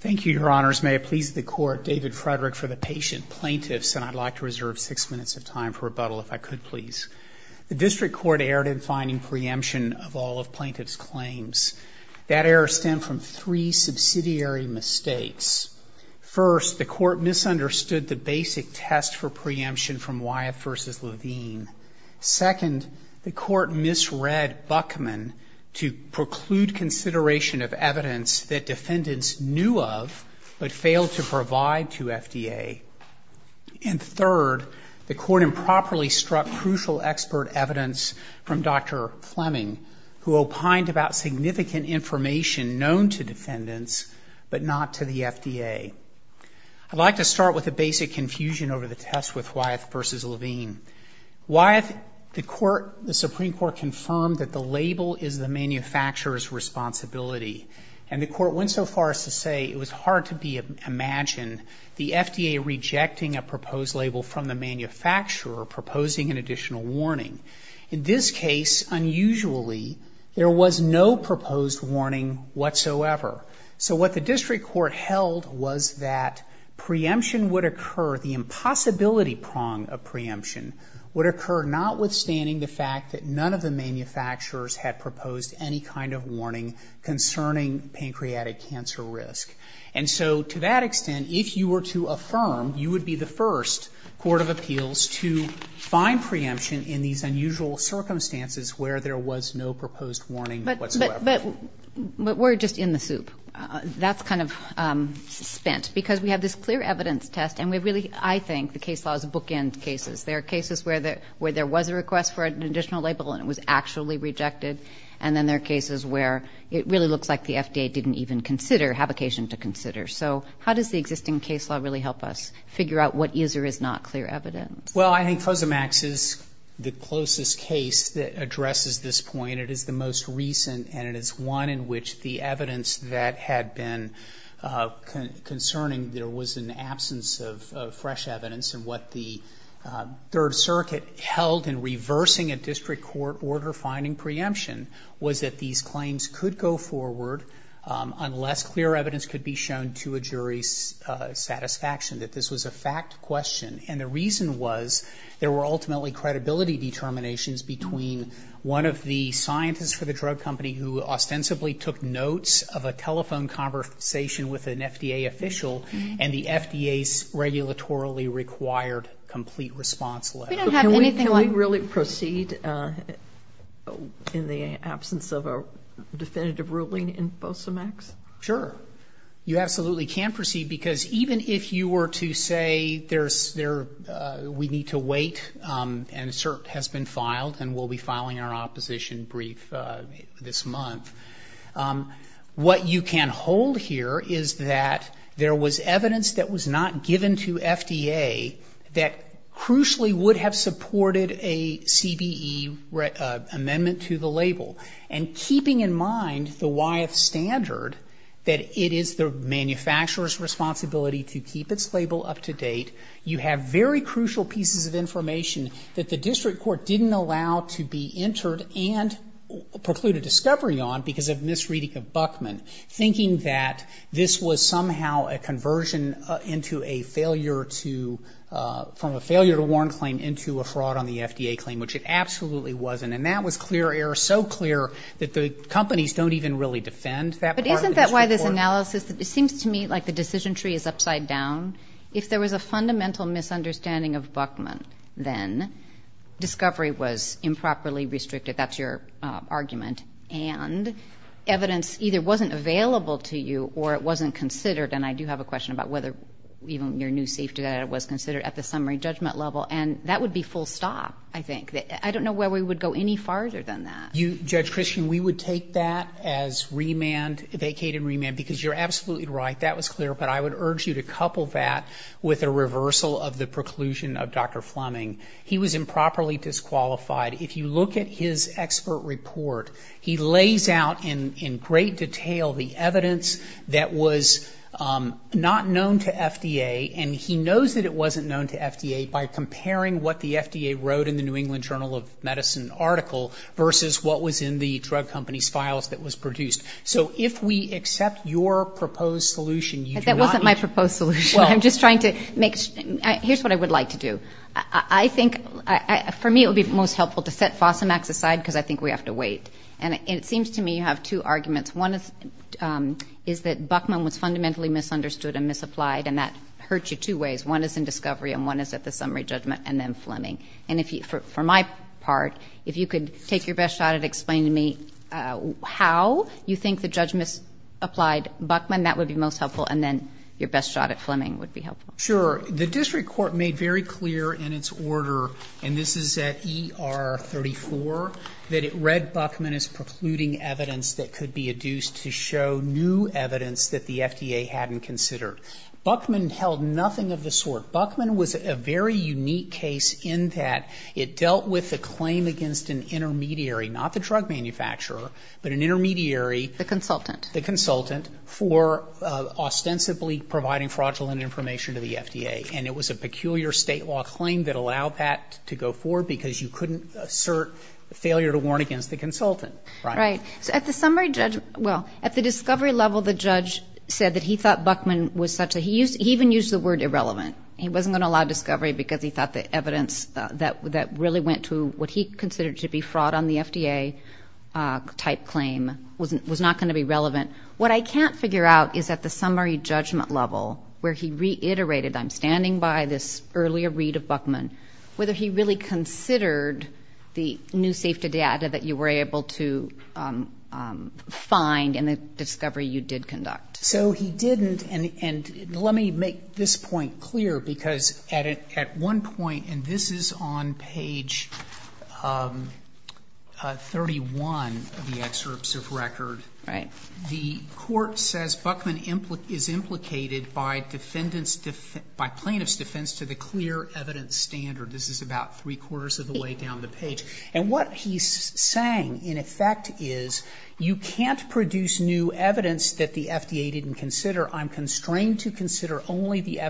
Thank you, Your Honors. May it please the Court, David Frederick for the patient plaintiffs, and I'd like to reserve six minutes of time for rebuttal, if I could, please. The District Court erred in finding preemption of all of plaintiff's claims. That error stemmed from three subsidiary mistakes. First, the Court misunderstood the basic test for preemption from Wyeth v. Levine. Second, the Court misread Buckman to preclude consideration of evidence that defendants knew of but failed to provide to FDA. And third, the Court improperly struck crucial expert evidence from Dr. Fleming, who opined about significant information known to defendants but not to the FDA. I'd like to start with the basic confusion over the test with Wyeth v. Levine. Wyeth, the Supreme Court confirmed that the label is the manufacturer's responsibility. And the Court went so far as to say it was hard to imagine the FDA rejecting a proposed label from the manufacturer proposing an additional warning. In this case, unusually, there was no proposed warning whatsoever. So what the District Court held was that preemption would occur, the impossibility prong of preemption would occur, notwithstanding the fact that none of the manufacturers had proposed any kind of warning concerning pancreatic cancer risk. And so to that extent, if you were to affirm, you would be the first court of appeals to find preemption in these unusual circumstances where there was no proposed warning whatsoever. But we're just in the soup. That's kind of spent. Because we have this clear evidence test, and we really, I think, the case law is a bookend case. There are cases where there was a request for an additional label and it was actually And then there are cases where it really looks like the FDA didn't even consider, have occasion to consider. So how does the existing case law really help us figure out what is or is not clear evidence? Well, I think COSAMAX is the closest case that addresses this point. It is the most recent, and it is one in which the evidence that had been concerning there was an absence of fresh evidence and what the Third Circuit held in reversing a district court order finding preemption was that these claims could go forward unless clear evidence could be shown to a jury's satisfaction, that this was a fact question. And the reason was there were ultimately credibility determinations between one of the scientists for the drug company who ostensibly took notes of a telephone conversation with an FDA official and the FDA's regulatorily required complete response letter. Can we really proceed in the absence of a definitive ruling in FOSAMAX? Sure. You absolutely can proceed because even if you were to say we need to wait and cert has been filed and we'll be filing our opposition brief this month, what you can hold here is that there was evidence that was not given to FDA that crucially would have supported a CBE amendment to the label. And keeping in mind the YF standard, that it is the manufacturer's responsibility to keep its label up to date, you have very crucial pieces of information that the district court didn't allow to be entered and preclude a discovery on because of misreading of Buckman, thinking that this was somehow a conversion from a failure to warn claim into a fraud on the FDA claim, which it absolutely wasn't. And that was clear error, so clear that the companies don't even really defend that part of the district court. But isn't that why this analysis, it seems to me like the decision tree is upside down. If there was a fundamental misunderstanding of Buckman then, discovery was improperly restricted. That's your argument. And evidence either wasn't available to you or it wasn't considered, and I do have a question about whether even your new safety data was considered at the summary judgment level. And that would be full stop, I think. I don't know where we would go any farther than that. Judge Christian, we would take that as remand, vacated remand, because you're absolutely right. That was clear, but I would urge you to couple that with a reversal of the preclusion of Dr. Fleming. He was improperly disqualified. If you look at his expert report, he lays out in great detail the evidence that was not known to FDA, and he knows that it wasn't known to FDA by comparing what the FDA wrote in the New England Journal of Medicine article versus what was in the drug company's files that was produced. So if we accept your proposed solution, you do not need to. But that wasn't my proposed solution. I'm just trying to make sure. Here's what I would like to do. I think for me it would be most helpful to set FOSAMAX aside because I think we have to wait. And it seems to me you have two arguments. One is that Buckman was fundamentally misunderstood and misapplied, and that hurts you two ways. One is in discovery and one is at the summary judgment and then Fleming. For my part, if you could take your best shot at explaining to me how you think the judge misapplied Buckman, that would be most helpful, and then your best shot at Fleming would be helpful. Sure. The district court made very clear in its order, and this is at ER 34, that it read Buckman as precluding evidence that could be adduced to show new evidence that the FDA hadn't considered. Buckman held nothing of the sort. Buckman was a very unique case in that it dealt with a claim against an intermediary, not the drug manufacturer, but an intermediary. The consultant. The consultant for ostensibly providing fraudulent information to the FDA. And it was a peculiar state law claim that allowed that to go forward because you couldn't assert failure to warn against the consultant. Right. So at the summary judgment, well, at the discovery level, the judge said that he thought Buckman was such a, he even used the word irrelevant. He wasn't going to allow discovery because he thought the evidence that really went to what he considered to be fraud on the FDA type claim was not going to be relevant. What I can't figure out is at the summary judgment level where he reiterated, I'm standing by this earlier read of Buckman, whether he really considered the new safety data that you were able to find in the discovery you did conduct. So he didn't. And let me make this point clear because at one point, and this is on page 31 of the excerpts of record. Right. The court says Buckman is implicated by plaintiff's defense to the clear evidence standard. This is about three-quarters of the way down the page. And what he's saying, in effect, is you can't produce new evidence that the FDA didn't consider. I'm constrained to consider only the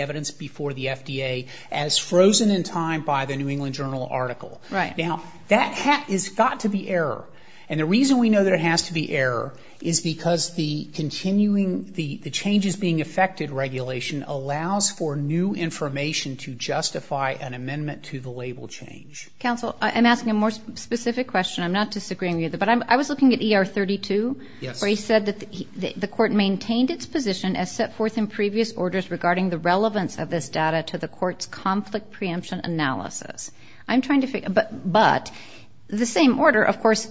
evidence before the FDA as frozen in time by the New England Journal article. Right. Now, that has got to be error. And the reason we know that it has to be error is because the continuing, the changes being affected regulation allows for new information to justify an amendment to the label change. Counsel, I'm asking a more specific question. I'm not disagreeing with you, but I was looking at ER 32. Yes. Where he said that the court maintained its position as set forth in previous orders regarding the relevance of this data to the court's conflict preemption analysis. I'm trying to figure, but the same order, of course,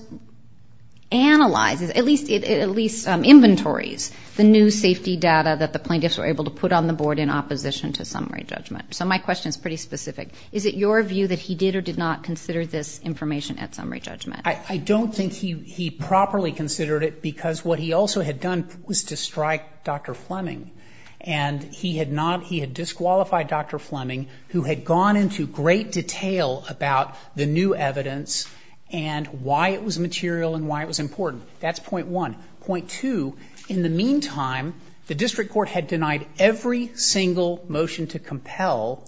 analyzes, at least inventories, the new safety data that the plaintiffs were able to put on the board in opposition to summary judgment. So my question is pretty specific. Is it your view that he did or did not consider this information at summary judgment? I don't think he properly considered it because what he also had done was to strike Dr. Fleming. And he had not, he had disqualified Dr. Fleming, who had gone into great detail about the new evidence and why it was material and why it was important. That's point one. Point two, in the meantime, the district court had denied every single motion to compel,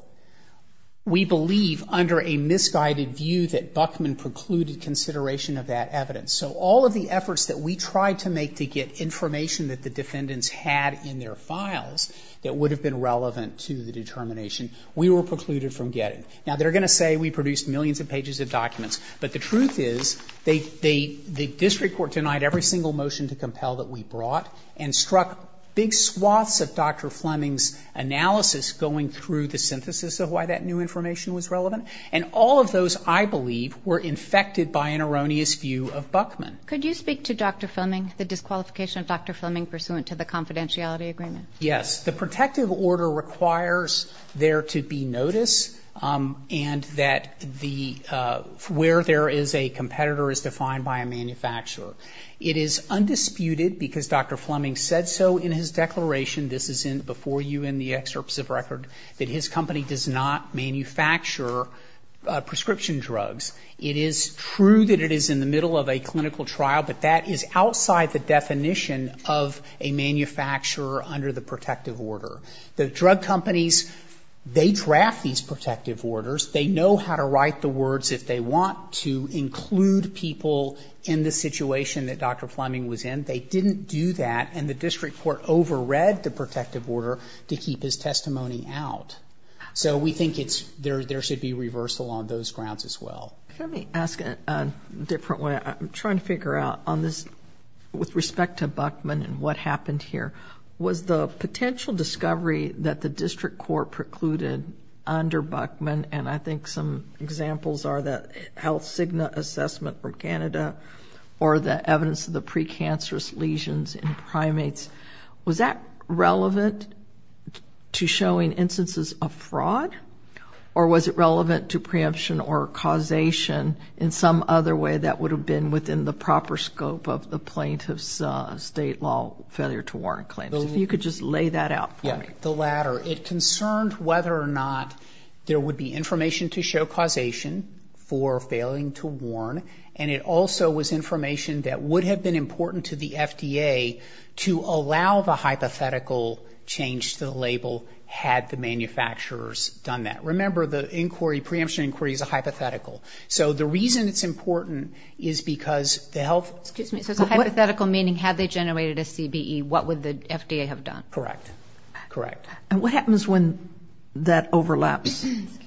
we believe, under a misguided view that Buckman precluded consideration of that evidence. So all of the efforts that we tried to make to get information that the defendants had in their files that would have been relevant to the determination, we were precluded from getting. Now, they're going to say we produced millions of pages of documents. But the truth is, the district court denied every single motion to compel that we brought and struck big swaths of Dr. Fleming's analysis going through the synthesis of why that new information was relevant. And all of those, I believe, were infected by an erroneous view of Buckman. Could you speak to Dr. Fleming, the disqualification of Dr. Fleming pursuant to the confidentiality agreement? Yes. The protective order requires there to be notice and that where there is a competitor is defined by a manufacturer. It is undisputed, because Dr. Fleming said so in his declaration, this is before you in the excerpts of record, that his company does not manufacture prescription drugs. It is true that it is in the middle of a clinical trial, but that is outside the definition of a manufacturer under the protective order. The drug companies, they draft these protective orders. They know how to write the words if they want to include people in the situation that Dr. Fleming was in. They didn't do that, and the district court overread the protective order to keep his testimony out. So we think there should be reversal on those grounds as well. Let me ask it a different way. I'm trying to figure out on this with respect to Buckman and what happened here. Was the potential discovery that the district court precluded under Buckman, and I think some examples are the HealthSigna assessment from Canada or the evidence of the precancerous lesions in primates, was that relevant to showing instances of fraud, or was it relevant to preemption or causation in some other way that would have been within the proper scope of the plaintiff's state law failure to warn claims? If you could just lay that out for me. The latter. It concerned whether or not there would be information to show causation for failing to warn, and it also was information that would have been important to the FDA to allow the hypothetical change to the label had the manufacturers done that. Remember, the inquiry, preemption inquiry is a hypothetical. So the reason it's important is because the health... Excuse me. So it's a hypothetical meaning had they generated a CBE, what would the FDA have done? Correct. Correct. And what happens when that overlaps? Excuse me.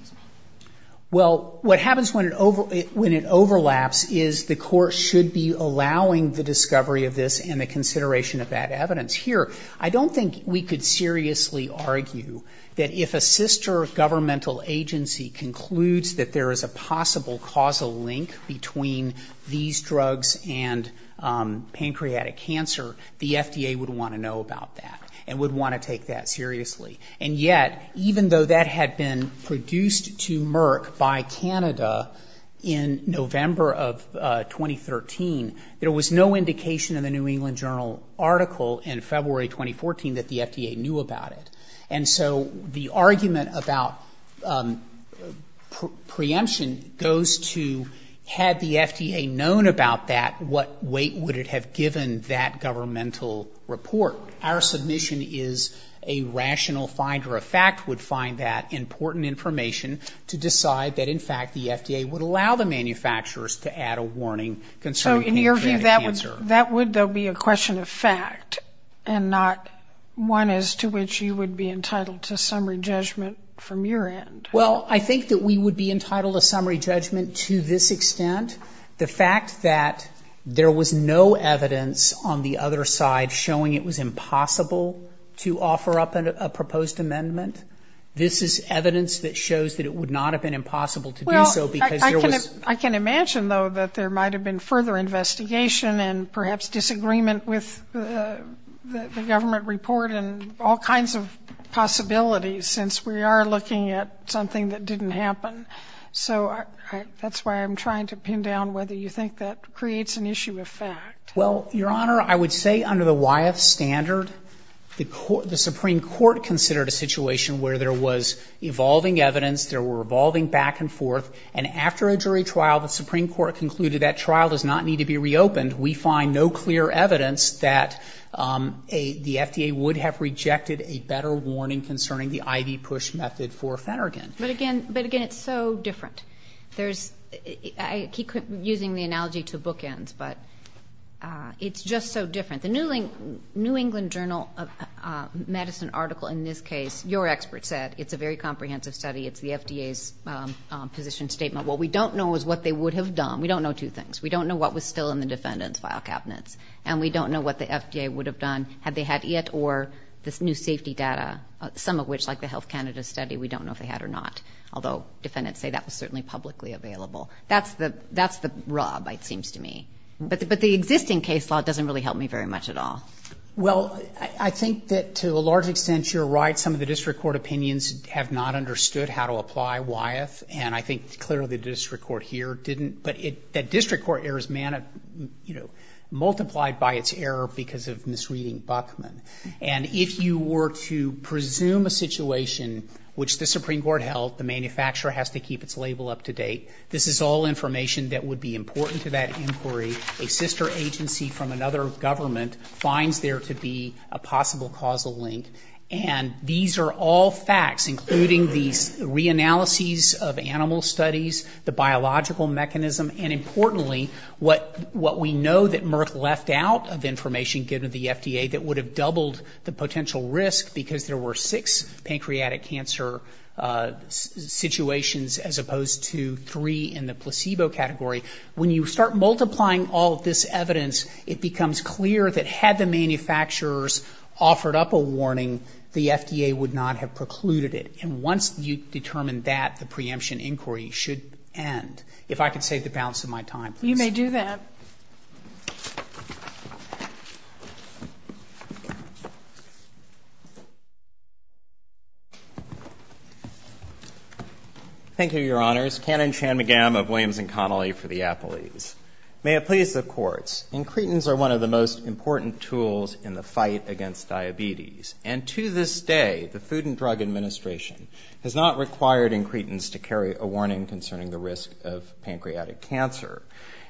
Well, what happens when it overlaps is the court should be allowing the discovery of this and the consideration of that evidence. Here, I don't think we could seriously argue that if a sister governmental agency concludes that there is a possible causal link between these drugs and pancreatic cancer, the FDA would want to know about that and would want to take that seriously. And yet, even though that had been produced to Merck by Canada in November of 2013, there was no indication in the New England Journal article in February 2014 that the FDA knew about it. And so the argument about preemption goes to had the FDA known about that, what weight would it have given that governmental report? Our submission is a rational finder. A fact would find that important information to decide that, in fact, the FDA would allow the manufacturers to add a warning concerning pancreatic cancer. So in your view, that would, though, be a question of fact and not one as to which you would be entitled to summary judgment from your end? Well, I think that we would be entitled to summary judgment to this extent. The fact that there was no evidence on the other side showing it was impossible to offer up a proposed amendment, this is evidence that shows that it would not have been impossible to do so because there was ‑‑ Well, I can imagine, though, that there might have been further investigation and perhaps disagreement with the government report and all kinds of possibilities, since we are looking at something that didn't happen. So that's why I'm trying to pin down whether you think that creates an issue of fact. Well, Your Honor, I would say under the Wyeth standard, the Supreme Court considered a situation where there was evolving evidence, there were revolving back and forth, and after a jury trial the Supreme Court concluded that trial does not need to be reopened. We find no clear evidence that the FDA would have rejected a better warning concerning the IV push method for Phenergan. But again, it's so different. I keep using the analogy to bookends, but it's just so different. The New England Journal of Medicine article in this case, your expert said, it's a very comprehensive study. It's the FDA's position statement. What we don't know is what they would have done. We don't know two things. We don't know what was still in the defendant's file cabinets, and we don't know what the FDA would have done had they had it or this new safety data, some of which, like the Health Canada study, we don't know if they had or not, although defendants say that was certainly publicly available. That's the rub, it seems to me. But the existing case law doesn't really help me very much at all. Well, I think that to a large extent you're right. Some of the district court opinions have not understood how to apply Wyeth, and I think clearly the district court here didn't. But the district court errors multiplied by its error because of misreading Buckman. And if you were to presume a situation which the Supreme Court held, the manufacturer has to keep its label up to date, this is all information that would be important to that inquiry. A sister agency from another government finds there to be a possible causal link. And these are all facts, including these reanalyses of animal studies, the biological mechanism, and importantly, what we know that Merck left out of information given to the FDA that would have doubled the potential risk because there were six pancreatic cancer situations as opposed to three in the placebo category. When you start multiplying all of this evidence, it becomes clear that had the manufacturers offered up a warning, the FDA would not have precluded it. And once you determine that, the preemption inquiry should end. If I could save the balance of my time, please. If I may do that. Thank you, Your Honors. Canon Chan-McGahm of Williams & Connolly for the Apples. May it please the courts, incretins are one of the most important tools in the fight against diabetes. And to this day, the Food and Drug Administration has not required incretins to carry a warning concerning the risk of pancreatic cancer.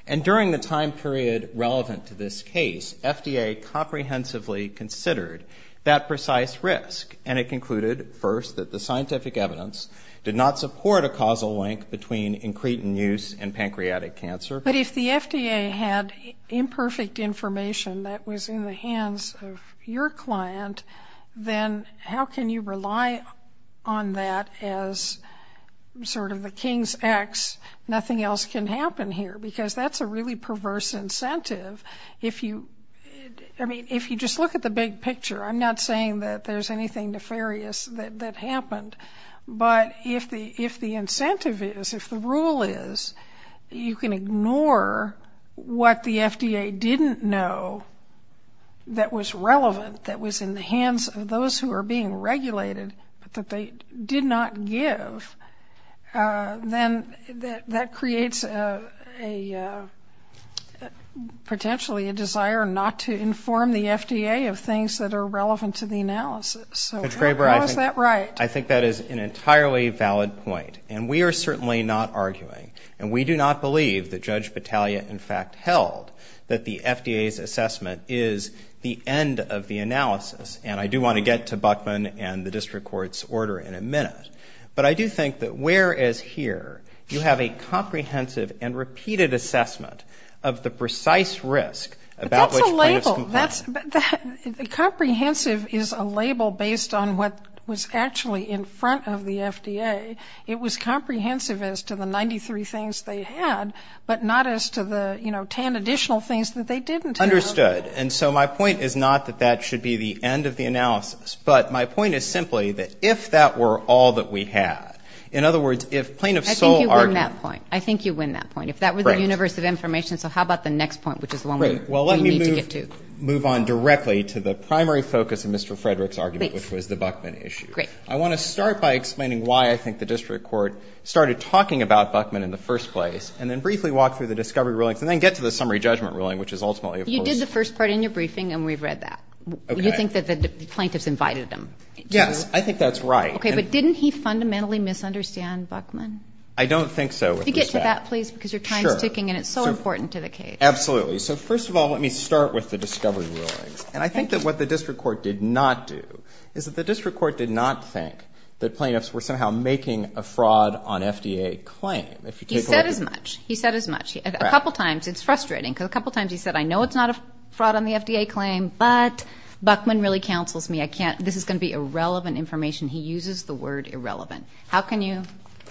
And during the time period relevant to this case, FDA comprehensively considered that precise risk, and it concluded, first, that the scientific evidence did not support a causal link between incretin use and pancreatic cancer. But if the FDA had imperfect information that was in the hands of your client, then how can you rely on that as sort of the king's ex, nothing else can happen here? Because that's a really perverse incentive. I mean, if you just look at the big picture, I'm not saying that there's anything nefarious that happened. But if the incentive is, if the rule is, you can ignore what the FDA didn't know that was relevant, that was in the hands of those who are being regulated, but that they did not give, then that creates a, potentially, a desire not to inform the FDA of things that are relevant to the analysis. So how is that right? I think that is an entirely valid point. And we are certainly not arguing, and we do not believe that Judge Battaglia, in fact, held that the FDA's assessment is the end of the analysis. And I do want to get to Buckman and the district court's order in a minute. But I do think that whereas here you have a comprehensive and repeated assessment of the precise risk about which plaintiffs complain. But that's a label. Comprehensive is a label based on what was actually in front of the FDA. It was comprehensive as to the 93 things they had, but not as to the 10 additional things that they didn't have. Understood. And so my point is not that that should be the end of the analysis, but my point is simply that if that were all that we had, in other words, if plaintiff's sole argument. I think you win that point. I think you win that point. If that was the universe of information, so how about the next point, which is the one we need to get to. Great. Well, let me move on directly to the primary focus of Mr. Frederick's argument, which was the Buckman issue. Great. I want to start by explaining why I think the district court started talking about Buckman in the first place, and then briefly walk through the discovery rulings, and then get to the summary judgment ruling, which is ultimately a first. You did the first part in your briefing, and we've read that. Okay. You think that the plaintiffs invited him. Yes, I think that's right. Okay, but didn't he fundamentally misunderstand Buckman? I don't think so. Could you get to that, please, because your time is ticking, and it's so important to the case. Sure. Absolutely. So first of all, let me start with the discovery rulings. And I think that what the district court did not do is that the district He said as much. He said as much. A couple times, it's frustrating, because a couple times he said, I know it's not a fraud on the FDA claim, but Buckman really counsels me. This is going to be irrelevant information. He uses the word irrelevant. How can you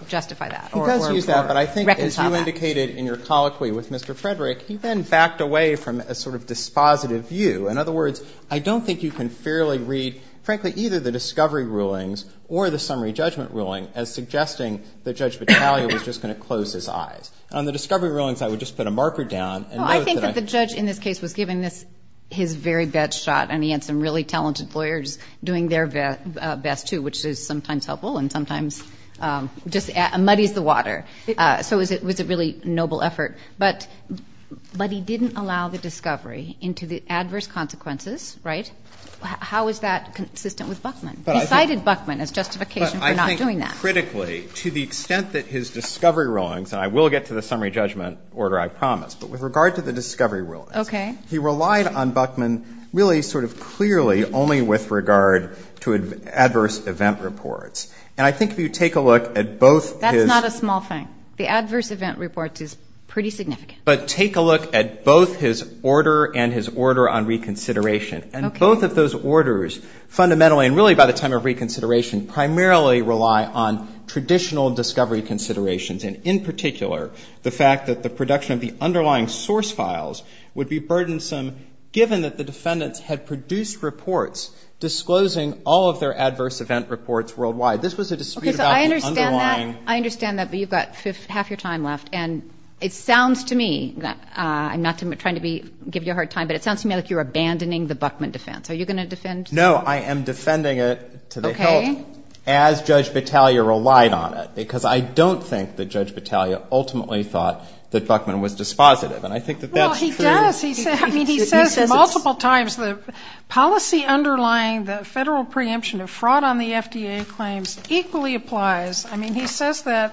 justify that? He does use that, but I think as you indicated in your colloquy with Mr. Frederick, he then backed away from a sort of dispositive view. In other words, I don't think you can fairly read, frankly, either the discovery rulings or the summary judgment ruling as suggesting that Judge Battaglia was just going to close his eyes. On the discovery rulings, I would just put a marker down. I think that the judge in this case was giving his very best shot, and he had some really talented lawyers doing their best, too, which is sometimes helpful and sometimes just muddies the water. So it was a really noble effort. But he didn't allow the discovery into the adverse consequences. Right? How is that consistent with Buckman? He cited Buckman as justification for not doing that. Critically, to the extent that his discovery rulings, and I will get to the summary judgment order, I promise, but with regard to the discovery rulings. Okay. He relied on Buckman really sort of clearly only with regard to adverse event reports. And I think if you take a look at both his. That's not a small thing. The adverse event reports is pretty significant. But take a look at both his order and his order on reconsideration. Okay. And both of those orders fundamentally, and really by the time of reconsideration, primarily rely on traditional discovery considerations. And in particular, the fact that the production of the underlying source files would be burdensome, given that the defendants had produced reports disclosing all of their adverse event reports worldwide. This was a dispute about the underlying. Okay. So I understand that. I understand that. But you've got half your time left. And it sounds to me, I'm not trying to give you a hard time, but it sounds to me like you're abandoning the Buckman defense. Are you going to defend? No, I am defending it to the hilt. Okay. As Judge Battaglia relied on it. Because I don't think that Judge Battaglia ultimately thought that Buckman was dispositive. And I think that that's true. Well, he does. He says multiple times the policy underlying the federal preemption of fraud on the FDA claims equally applies. I mean, he says that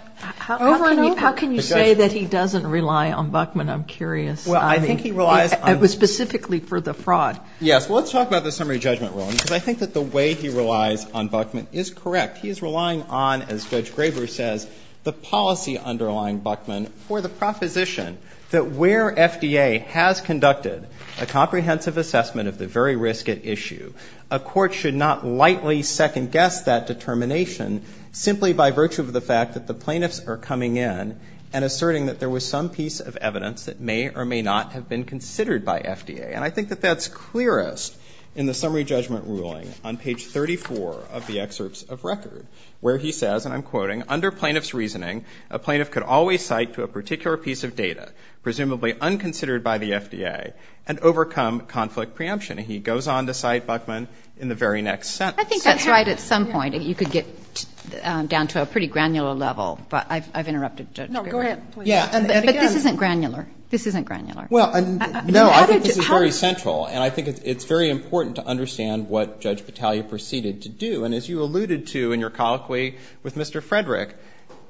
over and over. How can you say that he doesn't rely on Buckman? I'm curious. Well, I think he relies on. It was specifically for the fraud. Yes. Well, let's talk about the summary judgment rule. Because I think that the way he relies on Buckman is correct. He is relying on, as Judge Graber says, the policy underlying Buckman for the proposition that where FDA has conducted a comprehensive assessment of the very risk at issue, a court should not lightly second-guess that determination simply by virtue of the fact that the plaintiffs are coming in and asserting that there was some piece of evidence that may or may not have been considered by FDA. And I think that that's clearest in the summary judgment ruling on page 34 of the excerpts of record, where he says, and I'm quoting, under plaintiff's reasoning, a plaintiff could always cite to a particular piece of data, presumably unconsidered by the FDA, and overcome conflict preemption. And he goes on to cite Buckman in the very next sentence. I think that's right at some point. You could get down to a pretty granular level. But I've interrupted Judge Graber. No, go ahead. Yeah. But this isn't granular. This isn't granular. Well, no. I think this is very central. And I think it's very important to understand what Judge Battaglia proceeded to do. And as you alluded to in your colloquy with Mr. Frederick,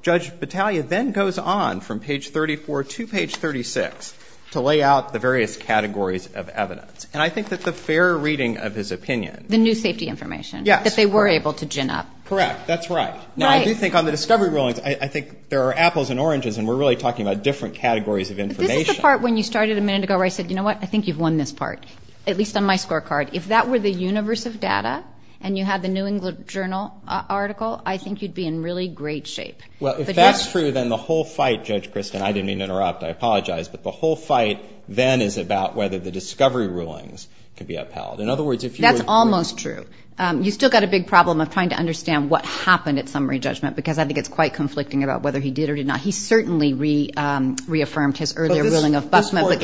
Judge Battaglia then goes on from page 34 to page 36 to lay out the various categories of evidence. And I think that the fair reading of his opinion. The new safety information. Yes. That they were able to gin up. Correct. That's right. Right. Now, I do think on the discovery rulings, I think there are apples and oranges, and we're really talking about different categories of information. This is the part when you started a minute ago where I said, you know what? I think you've won this part, at least on my scorecard. If that were the universe of data and you had the New England Journal article, I think you'd be in really great shape. Well, if that's true, then the whole fight, Judge Kristen, I didn't mean to interrupt. I apologize. But the whole fight then is about whether the discovery rulings can be upheld. In other words, if you were to... That's almost true. You've still got a big problem of trying to understand what happened at summary judgment because I think it's quite conflicting about whether he did or did not. He certainly reaffirmed his earlier ruling of Buffman. But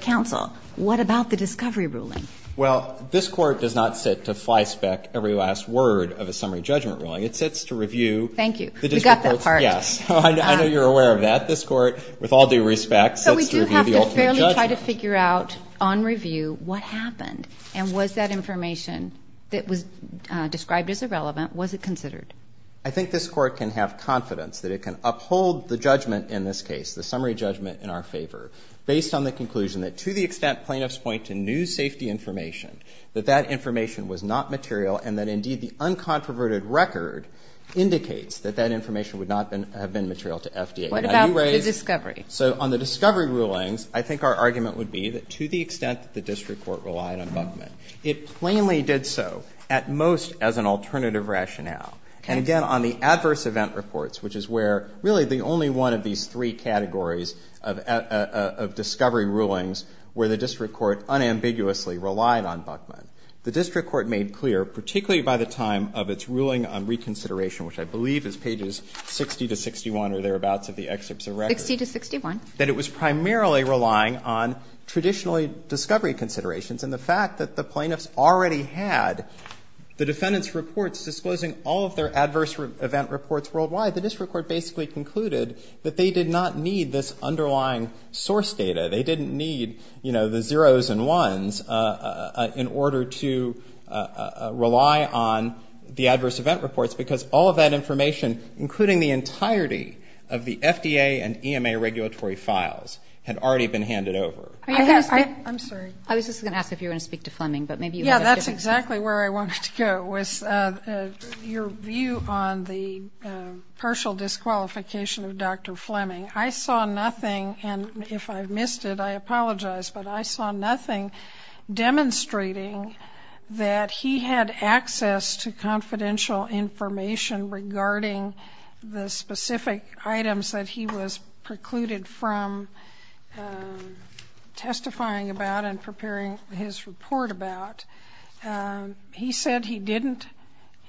counsel, what about the discovery ruling? Well, this court does not sit to flyspeck every last word of a summary judgment ruling. It sits to review... Thank you. We got that part. Yes. I know you're aware of that. This court, with all due respect, sits to review the ultimate judgment. So we do have to fairly try to figure out on review what happened and was that information that was described as irrelevant, was it considered? I think this court can have confidence that it can uphold the judgment in this case, the summary judgment in our favor, based on the conclusion that to the extent plaintiffs point to new safety information, that that information was not material and that indeed the uncontroverted record indicates that that information would not have been material to FDA. What about the discovery? So on the discovery rulings, I think our argument would be that to the extent that the district court relied on Buffman, it plainly did so at most as an alternative rationale. And again, on the adverse event reports, which is where really the only one of these three categories of discovery rulings where the district court unambiguously relied on Buffman. The district court made clear, particularly by the time of its ruling on reconsideration, which I believe is pages 60 to 61 or thereabouts of the excerpts of records. Sixty to 61. That it was primarily relying on traditionally discovery considerations and the fact that the plaintiffs already had the defendant's reports disclosing all of their adverse event reports worldwide, the district court basically concluded that they did not need this underlying source data. They didn't need, you know, the zeros and ones in order to rely on the adverse event reports, because all of that information, including the entirety of the FDA and EMA regulatory files, had already been handed over. I'm sorry. I was just going to ask if you were going to speak to Fleming. Yeah, that's exactly where I wanted to go, was your view on the partial disqualification of Dr. Fleming. I saw nothing, and if I've missed it, I apologize, but I saw nothing demonstrating that he had access to confidential information regarding the specific items that he was excluded from testifying about and preparing his report about. He said he didn't,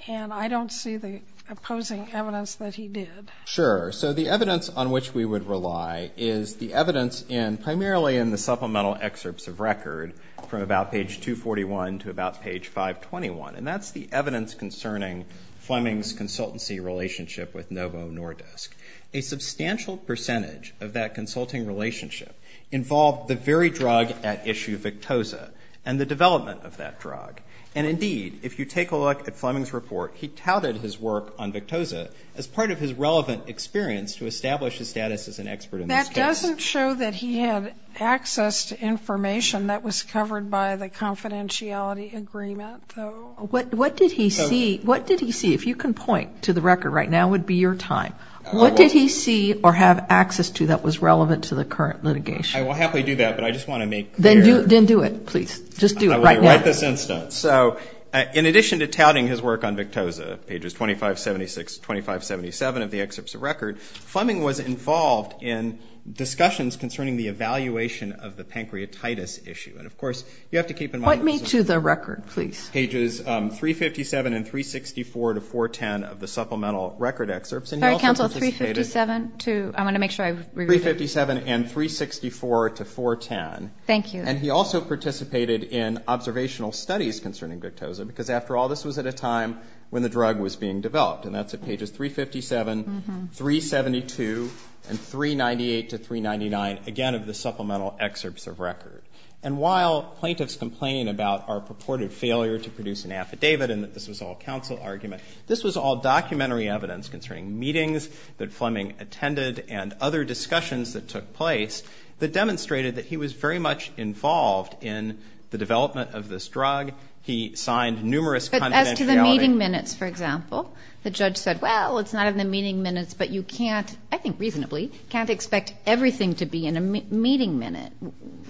and I don't see the opposing evidence that he did. Sure. So the evidence on which we would rely is the evidence primarily in the supplemental excerpts of record from about page 241 to about page 521, and that's the evidence concerning Fleming's consultancy relationship with Novo Nordisk. A substantial percentage of that consulting relationship involved the very drug at issue, Victoza, and the development of that drug. And indeed, if you take a look at Fleming's report, he touted his work on Victoza as part of his relevant experience to establish his status as an expert in this case. That doesn't show that he had access to information that was covered by the confidentiality agreement, though. What did he see? What did he see? If you can point to the record right now, it would be your time. What did he see or have access to that was relevant to the current litigation? I will happily do that, but I just want to make clear. Then do it, please. Just do it right now. I want to write this instance. So in addition to touting his work on Victoza, pages 2576 to 2577 of the excerpts of record, Fleming was involved in discussions concerning the evaluation of the pancreatitis issue. And, of course, you have to keep in mind that this is a record. Point me to the record, please. Pages 357 and 364 to 410 of the supplemental record excerpts. And he also participated. Sorry, counsel, 357 to... I want to make sure I read it. 357 and 364 to 410. Thank you. And he also participated in observational studies concerning Victoza because, after all, this was at a time when the drug was being developed. And that's at pages 357, 372, and 398 to 399, again, of the supplemental excerpts of record. And while plaintiffs complain about our purported failure to produce an affidavit and that this was all counsel argument, this was all documentary evidence concerning meetings that Fleming attended and other discussions that took place that demonstrated that he was very much involved in the development of this drug. He signed numerous confidentiality. But as to the meeting minutes, for example, the judge said, well, it's not in the meeting minutes, but you can't, I think reasonably, can't expect everything to be in a meeting minute.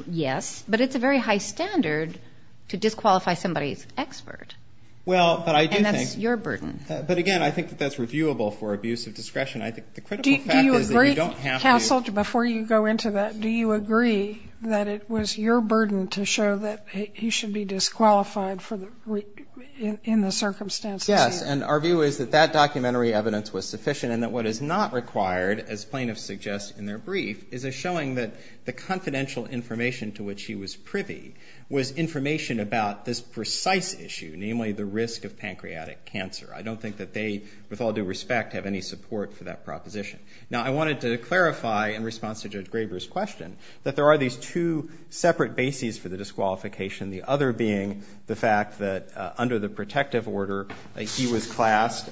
Yes, but it's a very high standard to disqualify somebody's expert. Well, but I do think. And that's your burden. But, again, I think that that's reviewable for abuse of discretion. I think the critical fact is that you don't have to. Do you agree, counsel, before you go into that, do you agree that it was your burden to show that he should be disqualified in the circumstances? Yes. And our view is that that documentary evidence was sufficient and that what is not required, as plaintiffs suggest in their brief, is a showing that the confidential information to which he was privy was information about this precise issue, namely the risk of pancreatic cancer. I don't think that they, with all due respect, have any support for that proposition. Now, I wanted to clarify, in response to Judge Graber's question, that there are these two separate bases for the disqualification, the other being the fact that under the protective order, he was classed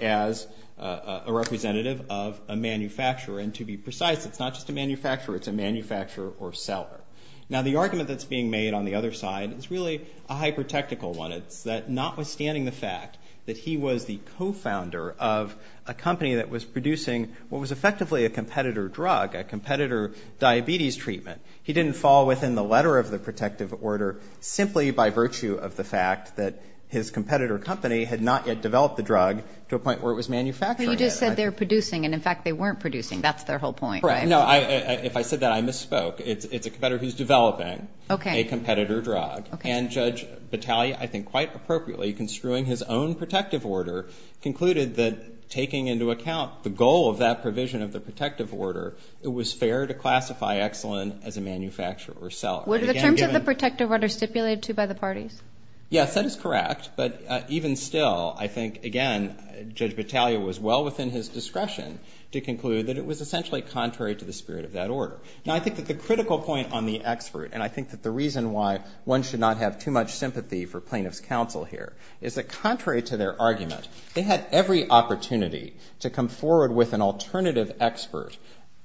as a representative of a manufacturer. And to be precise, it's not just a manufacturer. It's a manufacturer or seller. Now, the argument that's being made on the other side is really a hyper-technical one. It's that notwithstanding the fact that he was the co-founder of a company that was producing what was effectively a competitor drug, a competitor diabetes treatment, he didn't fall within the letter of the protective order simply by virtue of the fact that his competitor company had not yet developed the drug to a point where it was manufactured. But you just said they're producing, and, in fact, they weren't producing. That's their whole point, right? No, if I said that, I misspoke. It's a competitor who's developing a competitor drug. And Judge Battaglia, I think quite appropriately, construing his own protective order, concluded that taking into account the goal of that provision of the protective order, it was fair to classify Excellen as a manufacturer or seller. Were the terms of the protective order stipulated, too, by the parties? Yes, that is correct. But even still, I think, again, Judge Battaglia was well within his discretion to conclude that it was essentially contrary to the spirit of that order. Now, I think that the critical point on the expert, and I think that the reason why one should not have too much sympathy for plaintiff's counsel here, is that contrary to their argument, they had every opportunity to come forward with an alternative expert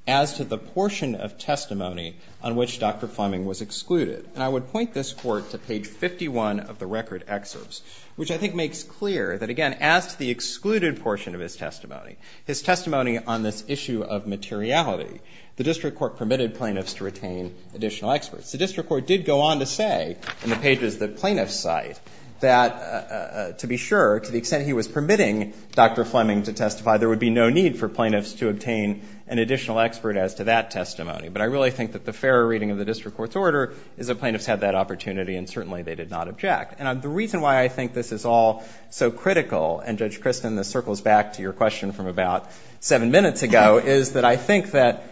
as to the portion of testimony on which Dr. Fleming was excluded. And I would point this Court to page 51 of the record excerpts, which I think makes clear that, again, as to the excluded portion of his testimony, his testimony on this issue of materiality, the district court permitted plaintiffs to retain additional experts. The district court did go on to say, in the pages that plaintiffs cite, that to be sure, to the extent he was permitting Dr. Fleming to testify, there would be no need for plaintiffs to obtain an additional expert as to that testimony. But I really think that the fair reading of the district court's order is that plaintiffs had that opportunity, and certainly they did not object. And the reason why I think this is all so critical, and Judge Christin, this circles back to your question from about seven minutes ago, is that I think that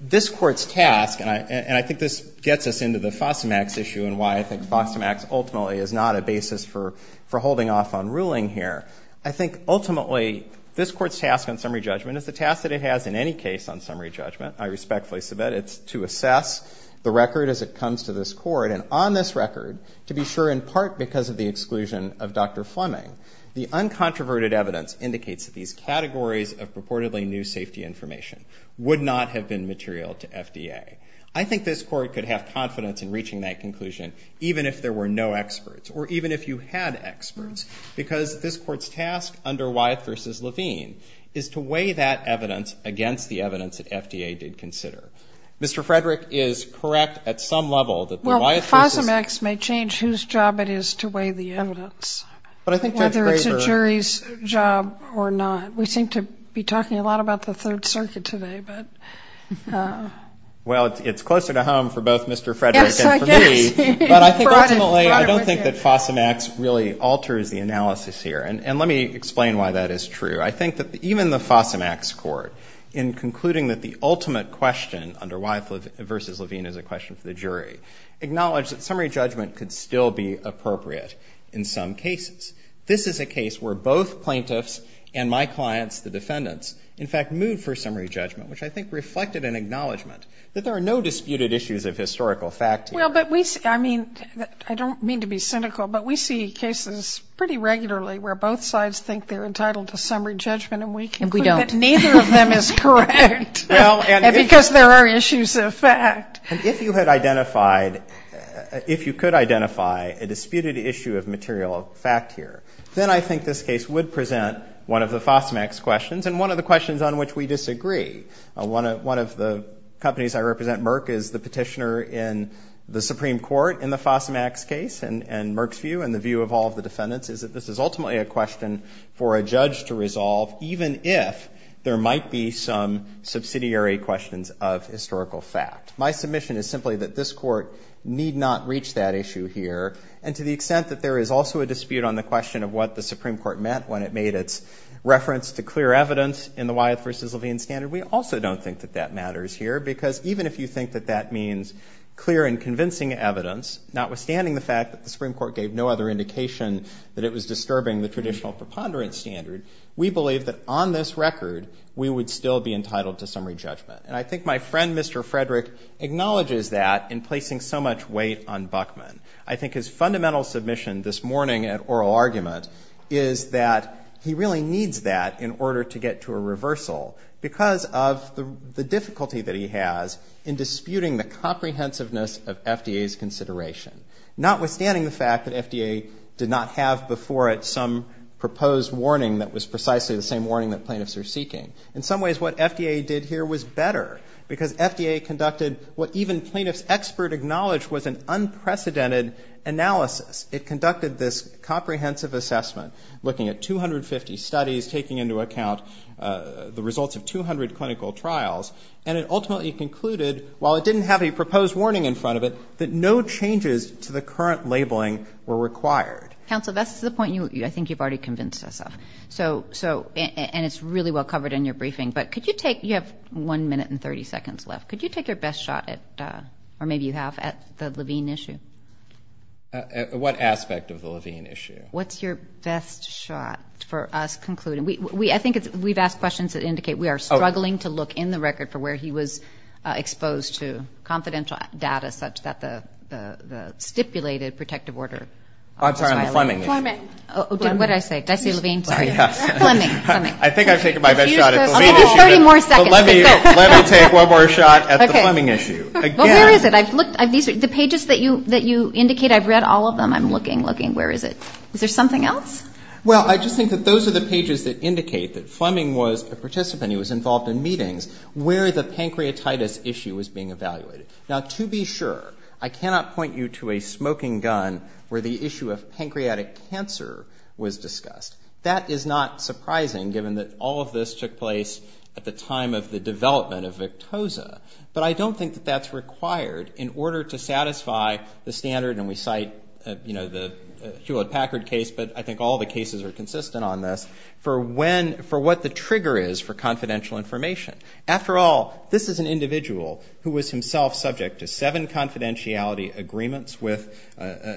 this Court's task, and I think this gets us into the FOSTA-MAX issue and why I think FOSTA-MAX ultimately is not a basis for holding off on ruling here. I think, ultimately, this Court's task on summary judgment is the task that it has in any case on summary judgment. I respectfully submit it's to assess the record as it comes to this Court, and on this record, to be sure in part because of the exclusion of Dr. Fleming. The uncontroverted evidence indicates that these categories of purportedly new safety information would not have been material to FDA. I think this Court could have confidence in reaching that conclusion, even if there were no experts, or even if you had experts, because this Court's task under Wyeth v. Levine is to weigh that evidence against the evidence that FDA did consider. Mr. Frederick is correct at some level that Wyeth v. Well, FOSTA-MAX may change whose job it is to weigh the evidence, whether it's a jury's job or not. We seem to be talking a lot about the Third Circuit today. Well, it's closer to home for both Mr. Frederick and for me, but I don't think that FOSTA-MAX really alters the analysis here. And let me explain why that is true. I think that even the FOSTA-MAX Court, in concluding that the ultimate question under Wyeth v. Levine is a question for the jury, acknowledged that summary judgment could still be appropriate in some cases. This is a case where both plaintiffs and my clients, the defendants, in fact, moved for summary judgment, which I think reflected an acknowledgment that there are no disputed issues of historical fact here. Well, but we see, I mean, I don't mean to be cynical, but we see cases pretty regularly where both sides think they're entitled to summary judgment, and we conclude that neither of them is correct. And we don't. Because there are issues of fact. And if you had identified, if you could identify a disputed issue of material fact here, then I think this case would present one of the FOSTA-MAX questions, and one of the questions on which we disagree. One of the companies I represent, Merck, is the petitioner in the Supreme Court in the FOSTA-MAX case. And Merck's view, and the view of all of the defendants, is that this is ultimately a question for a judge to resolve, even if there might be some subsidiary questions of historical fact. My submission is simply that this court need not reach that issue here. And to the extent that there is also a dispute on the question of what the Supreme Court meant when it made its reference to clear evidence in the Wyeth v. Levine standard, we also don't think that that matters here. Because even if you think that that means clear and convincing evidence, notwithstanding the fact that the Supreme Court gave no other indication that it was disturbing the traditional preponderance standard, we believe that on this record we would still be entitled to summary judgment. And I think my friend, Mr. Frederick, acknowledges that in placing so much weight on Buckman. I think his fundamental submission this morning at oral argument is that he really needs that in order to get to a reversal because of the difficulty that he has in disputing the comprehensiveness of FDA's consideration, notwithstanding the fact that FDA did not have before it some proposed warning that was precisely the same warning that plaintiffs are seeking. In some ways what FDA did here was better because FDA conducted what even plaintiffs' expert acknowledged was an unprecedented analysis. It conducted this comprehensive assessment, looking at 250 studies, taking into account the results of 200 clinical trials, and it ultimately concluded, while it didn't have a proposed warning in front of it, that no changes to the current labeling were required. Counsel, that's the point I think you've already convinced us of. And it's really well covered in your briefing. But could you take, you have 1 minute and 30 seconds left, could you take your best shot at, or maybe you have, at the Levine issue? What aspect of the Levine issue? What's your best shot for us concluding? I think we've asked questions that indicate we are struggling to look in the record for where he was exposed to confidential data such that the stipulated protective order. I'm sorry, on the Fleming issue. Fleming. What did I say? Did I say Levine? Fleming. I think I've taken my best shot at the Levine issue. I'll give you 30 more seconds. Let me take one more shot at the Fleming issue. Well, where is it? The pages that you indicate, I've read all of them. I'm looking, looking. Where is it? Is there something else? Well, I just think that those are the pages that indicate that Fleming was a participant, he was involved in meetings, where the pancreatitis issue was being evaluated. Now, to be sure, I cannot point you to a smoking gun where the issue of pancreatic cancer was discussed. That is not surprising given that all of this took place at the time of the development of Victoza. But I don't think that that's required in order to satisfy the standard, and we cite the Hewlett-Packard case, but I think all the cases are consistent on this, for what the trigger is for confidential information. After all, this is an individual who was himself subject to seven confidentiality agreements with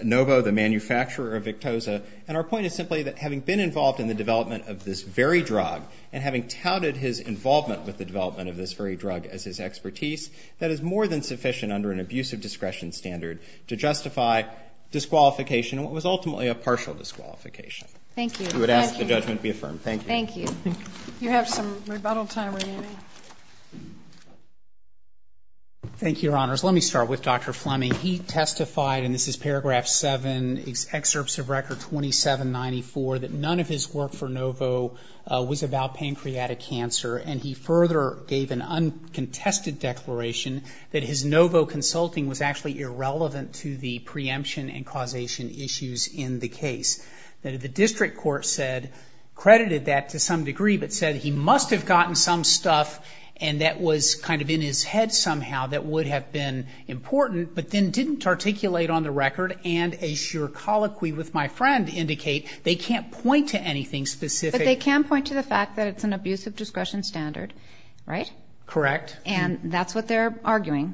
Novo, the manufacturer of Victoza, and our point is simply that having been involved in the development of this very drug and having touted his involvement with the development of this very drug as his expertise, that is more than sufficient under an abusive discretion standard to justify disqualification, what was ultimately a partial disqualification. Thank you. You would ask the judgment be affirmed. Thank you. Thank you. You have some rebuttal time remaining. Thank you, Your Honors. Let me start with Dr. Fleming. He testified, and this is Paragraph 7, Excerpts of Record 2794, that none of his work for Novo was about pancreatic cancer, and he further gave an uncontested declaration that his Novo consulting was actually irrelevant to the preemption and causation issues in the case. The district court said, credited that to some degree, but said he must have gotten some stuff and that was kind of in his head somehow that would have been important, but then didn't articulate on the record and, as your colloquy with my friend indicate, they can't point to anything specific. But they can point to the fact that it's an abusive discretion standard, right? Correct. And that's what they're arguing,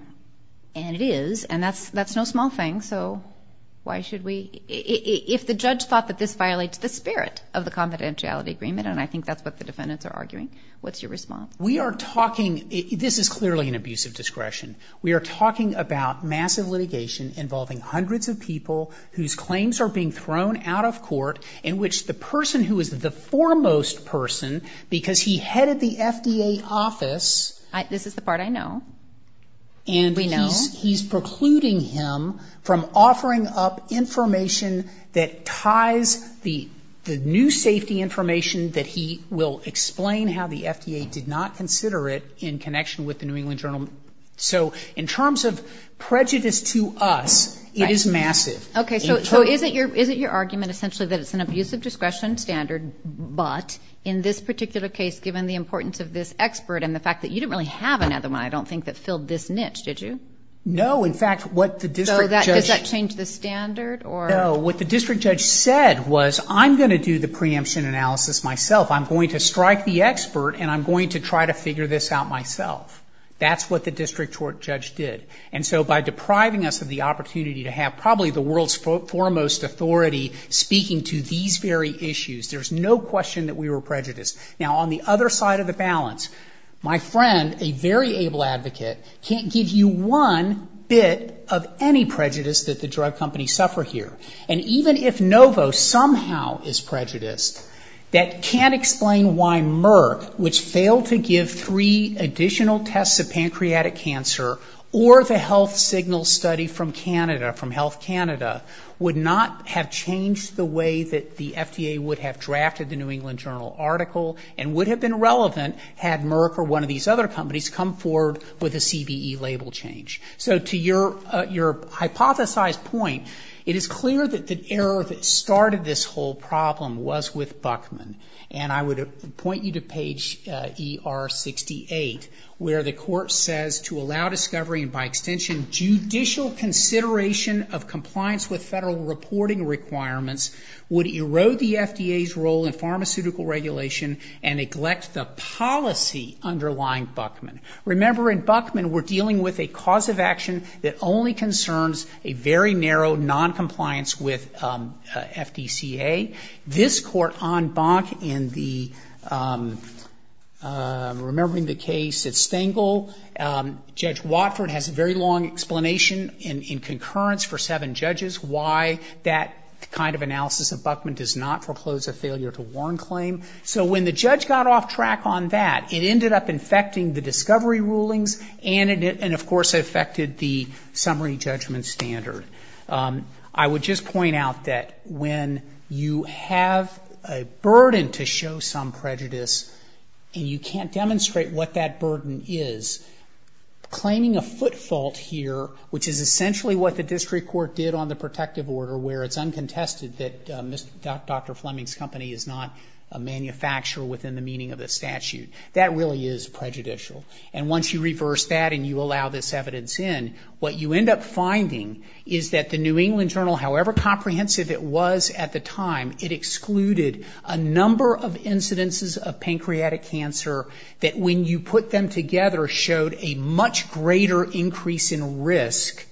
and it is, and that's no small thing, so why should we – if the judge thought that this violates the spirit of the confidentiality agreement, and I think that's what the defendants are arguing, what's your response? We are talking – this is clearly an abusive discretion. We are talking about massive litigation involving hundreds of people whose claims are being thrown out of court in which the person who is the foremost person, because he headed the FDA office. This is the part I know. We know. And he's precluding him from offering up information that ties the new safety information that he will explain how the FDA did not consider it in connection with the New England Journal. So in terms of prejudice to us, it is massive. Okay, so is it your argument essentially that it's an abusive discretion standard, but in this particular case, given the importance of this expert and the fact that you didn't really have another one, I don't think, that filled this niche, did you? No. In fact, what the district judge – So does that change the standard? No. What the district judge said was, I'm going to do the preemption analysis myself. I'm going to strike the expert, and I'm going to try to figure this out myself. That's what the district judge did. And so by depriving us of the opportunity to have probably the world's foremost authority speaking to these very issues, there's no question that we were prejudiced. Now, on the other side of the balance, my friend, a very able advocate, can't give you one bit of any prejudice that the drug companies suffer here. And even if Novo somehow is prejudiced, that can't explain why Merck, which failed to give three additional tests of pancreatic cancer, or the health signal study from Canada, from Health Canada, would not have changed the way that the FDA would have drafted the New England Journal article and would have been relevant had Merck or one of these other companies come forward with a CBE label change. So to your hypothesized point, it is clear that the error that started this whole problem was with Buckman. And I would point you to page ER 68 where the court says, to allow discovery and by extension judicial consideration of compliance with federal reporting requirements would erode the FDA's role in the pharmaceutical regulation and neglect the policy underlying Buckman. Remember, in Buckman we're dealing with a cause of action that only concerns a very narrow noncompliance with FDCA. This Court en banc in the ‑‑ remembering the case at Stengel, Judge Watford has a very long explanation in concurrence for seven judges why that kind of analysis of Buckman does not foreclose a failure to warn claim. So when the judge got off track on that, it ended up infecting the discovery rulings and of course it affected the summary judgment standard. I would just point out that when you have a burden to show some prejudice and you can't demonstrate what that burden is, claiming a foot fault here, which is essentially what the district court did on the protective order where it's uncontested that Dr. Fleming's company is not a manufacturer within the meaning of the statute, that really is prejudicial. And once you reverse that and you allow this evidence in, what you end up finding is that the New England Journal, however comprehensive it was at the time, it excluded a number of incidences of pancreatic cancer that when you put them together showed a much greater increase in risk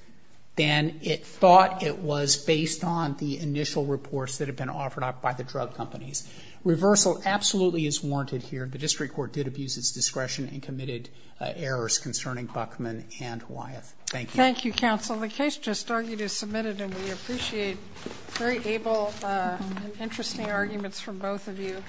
than it thought it was based on the initial reports that had been offered by the drug companies. Reversal absolutely is warranted here. The district court did abuse its discretion and committed errors concerning Buckman and Wyeth. Thank you.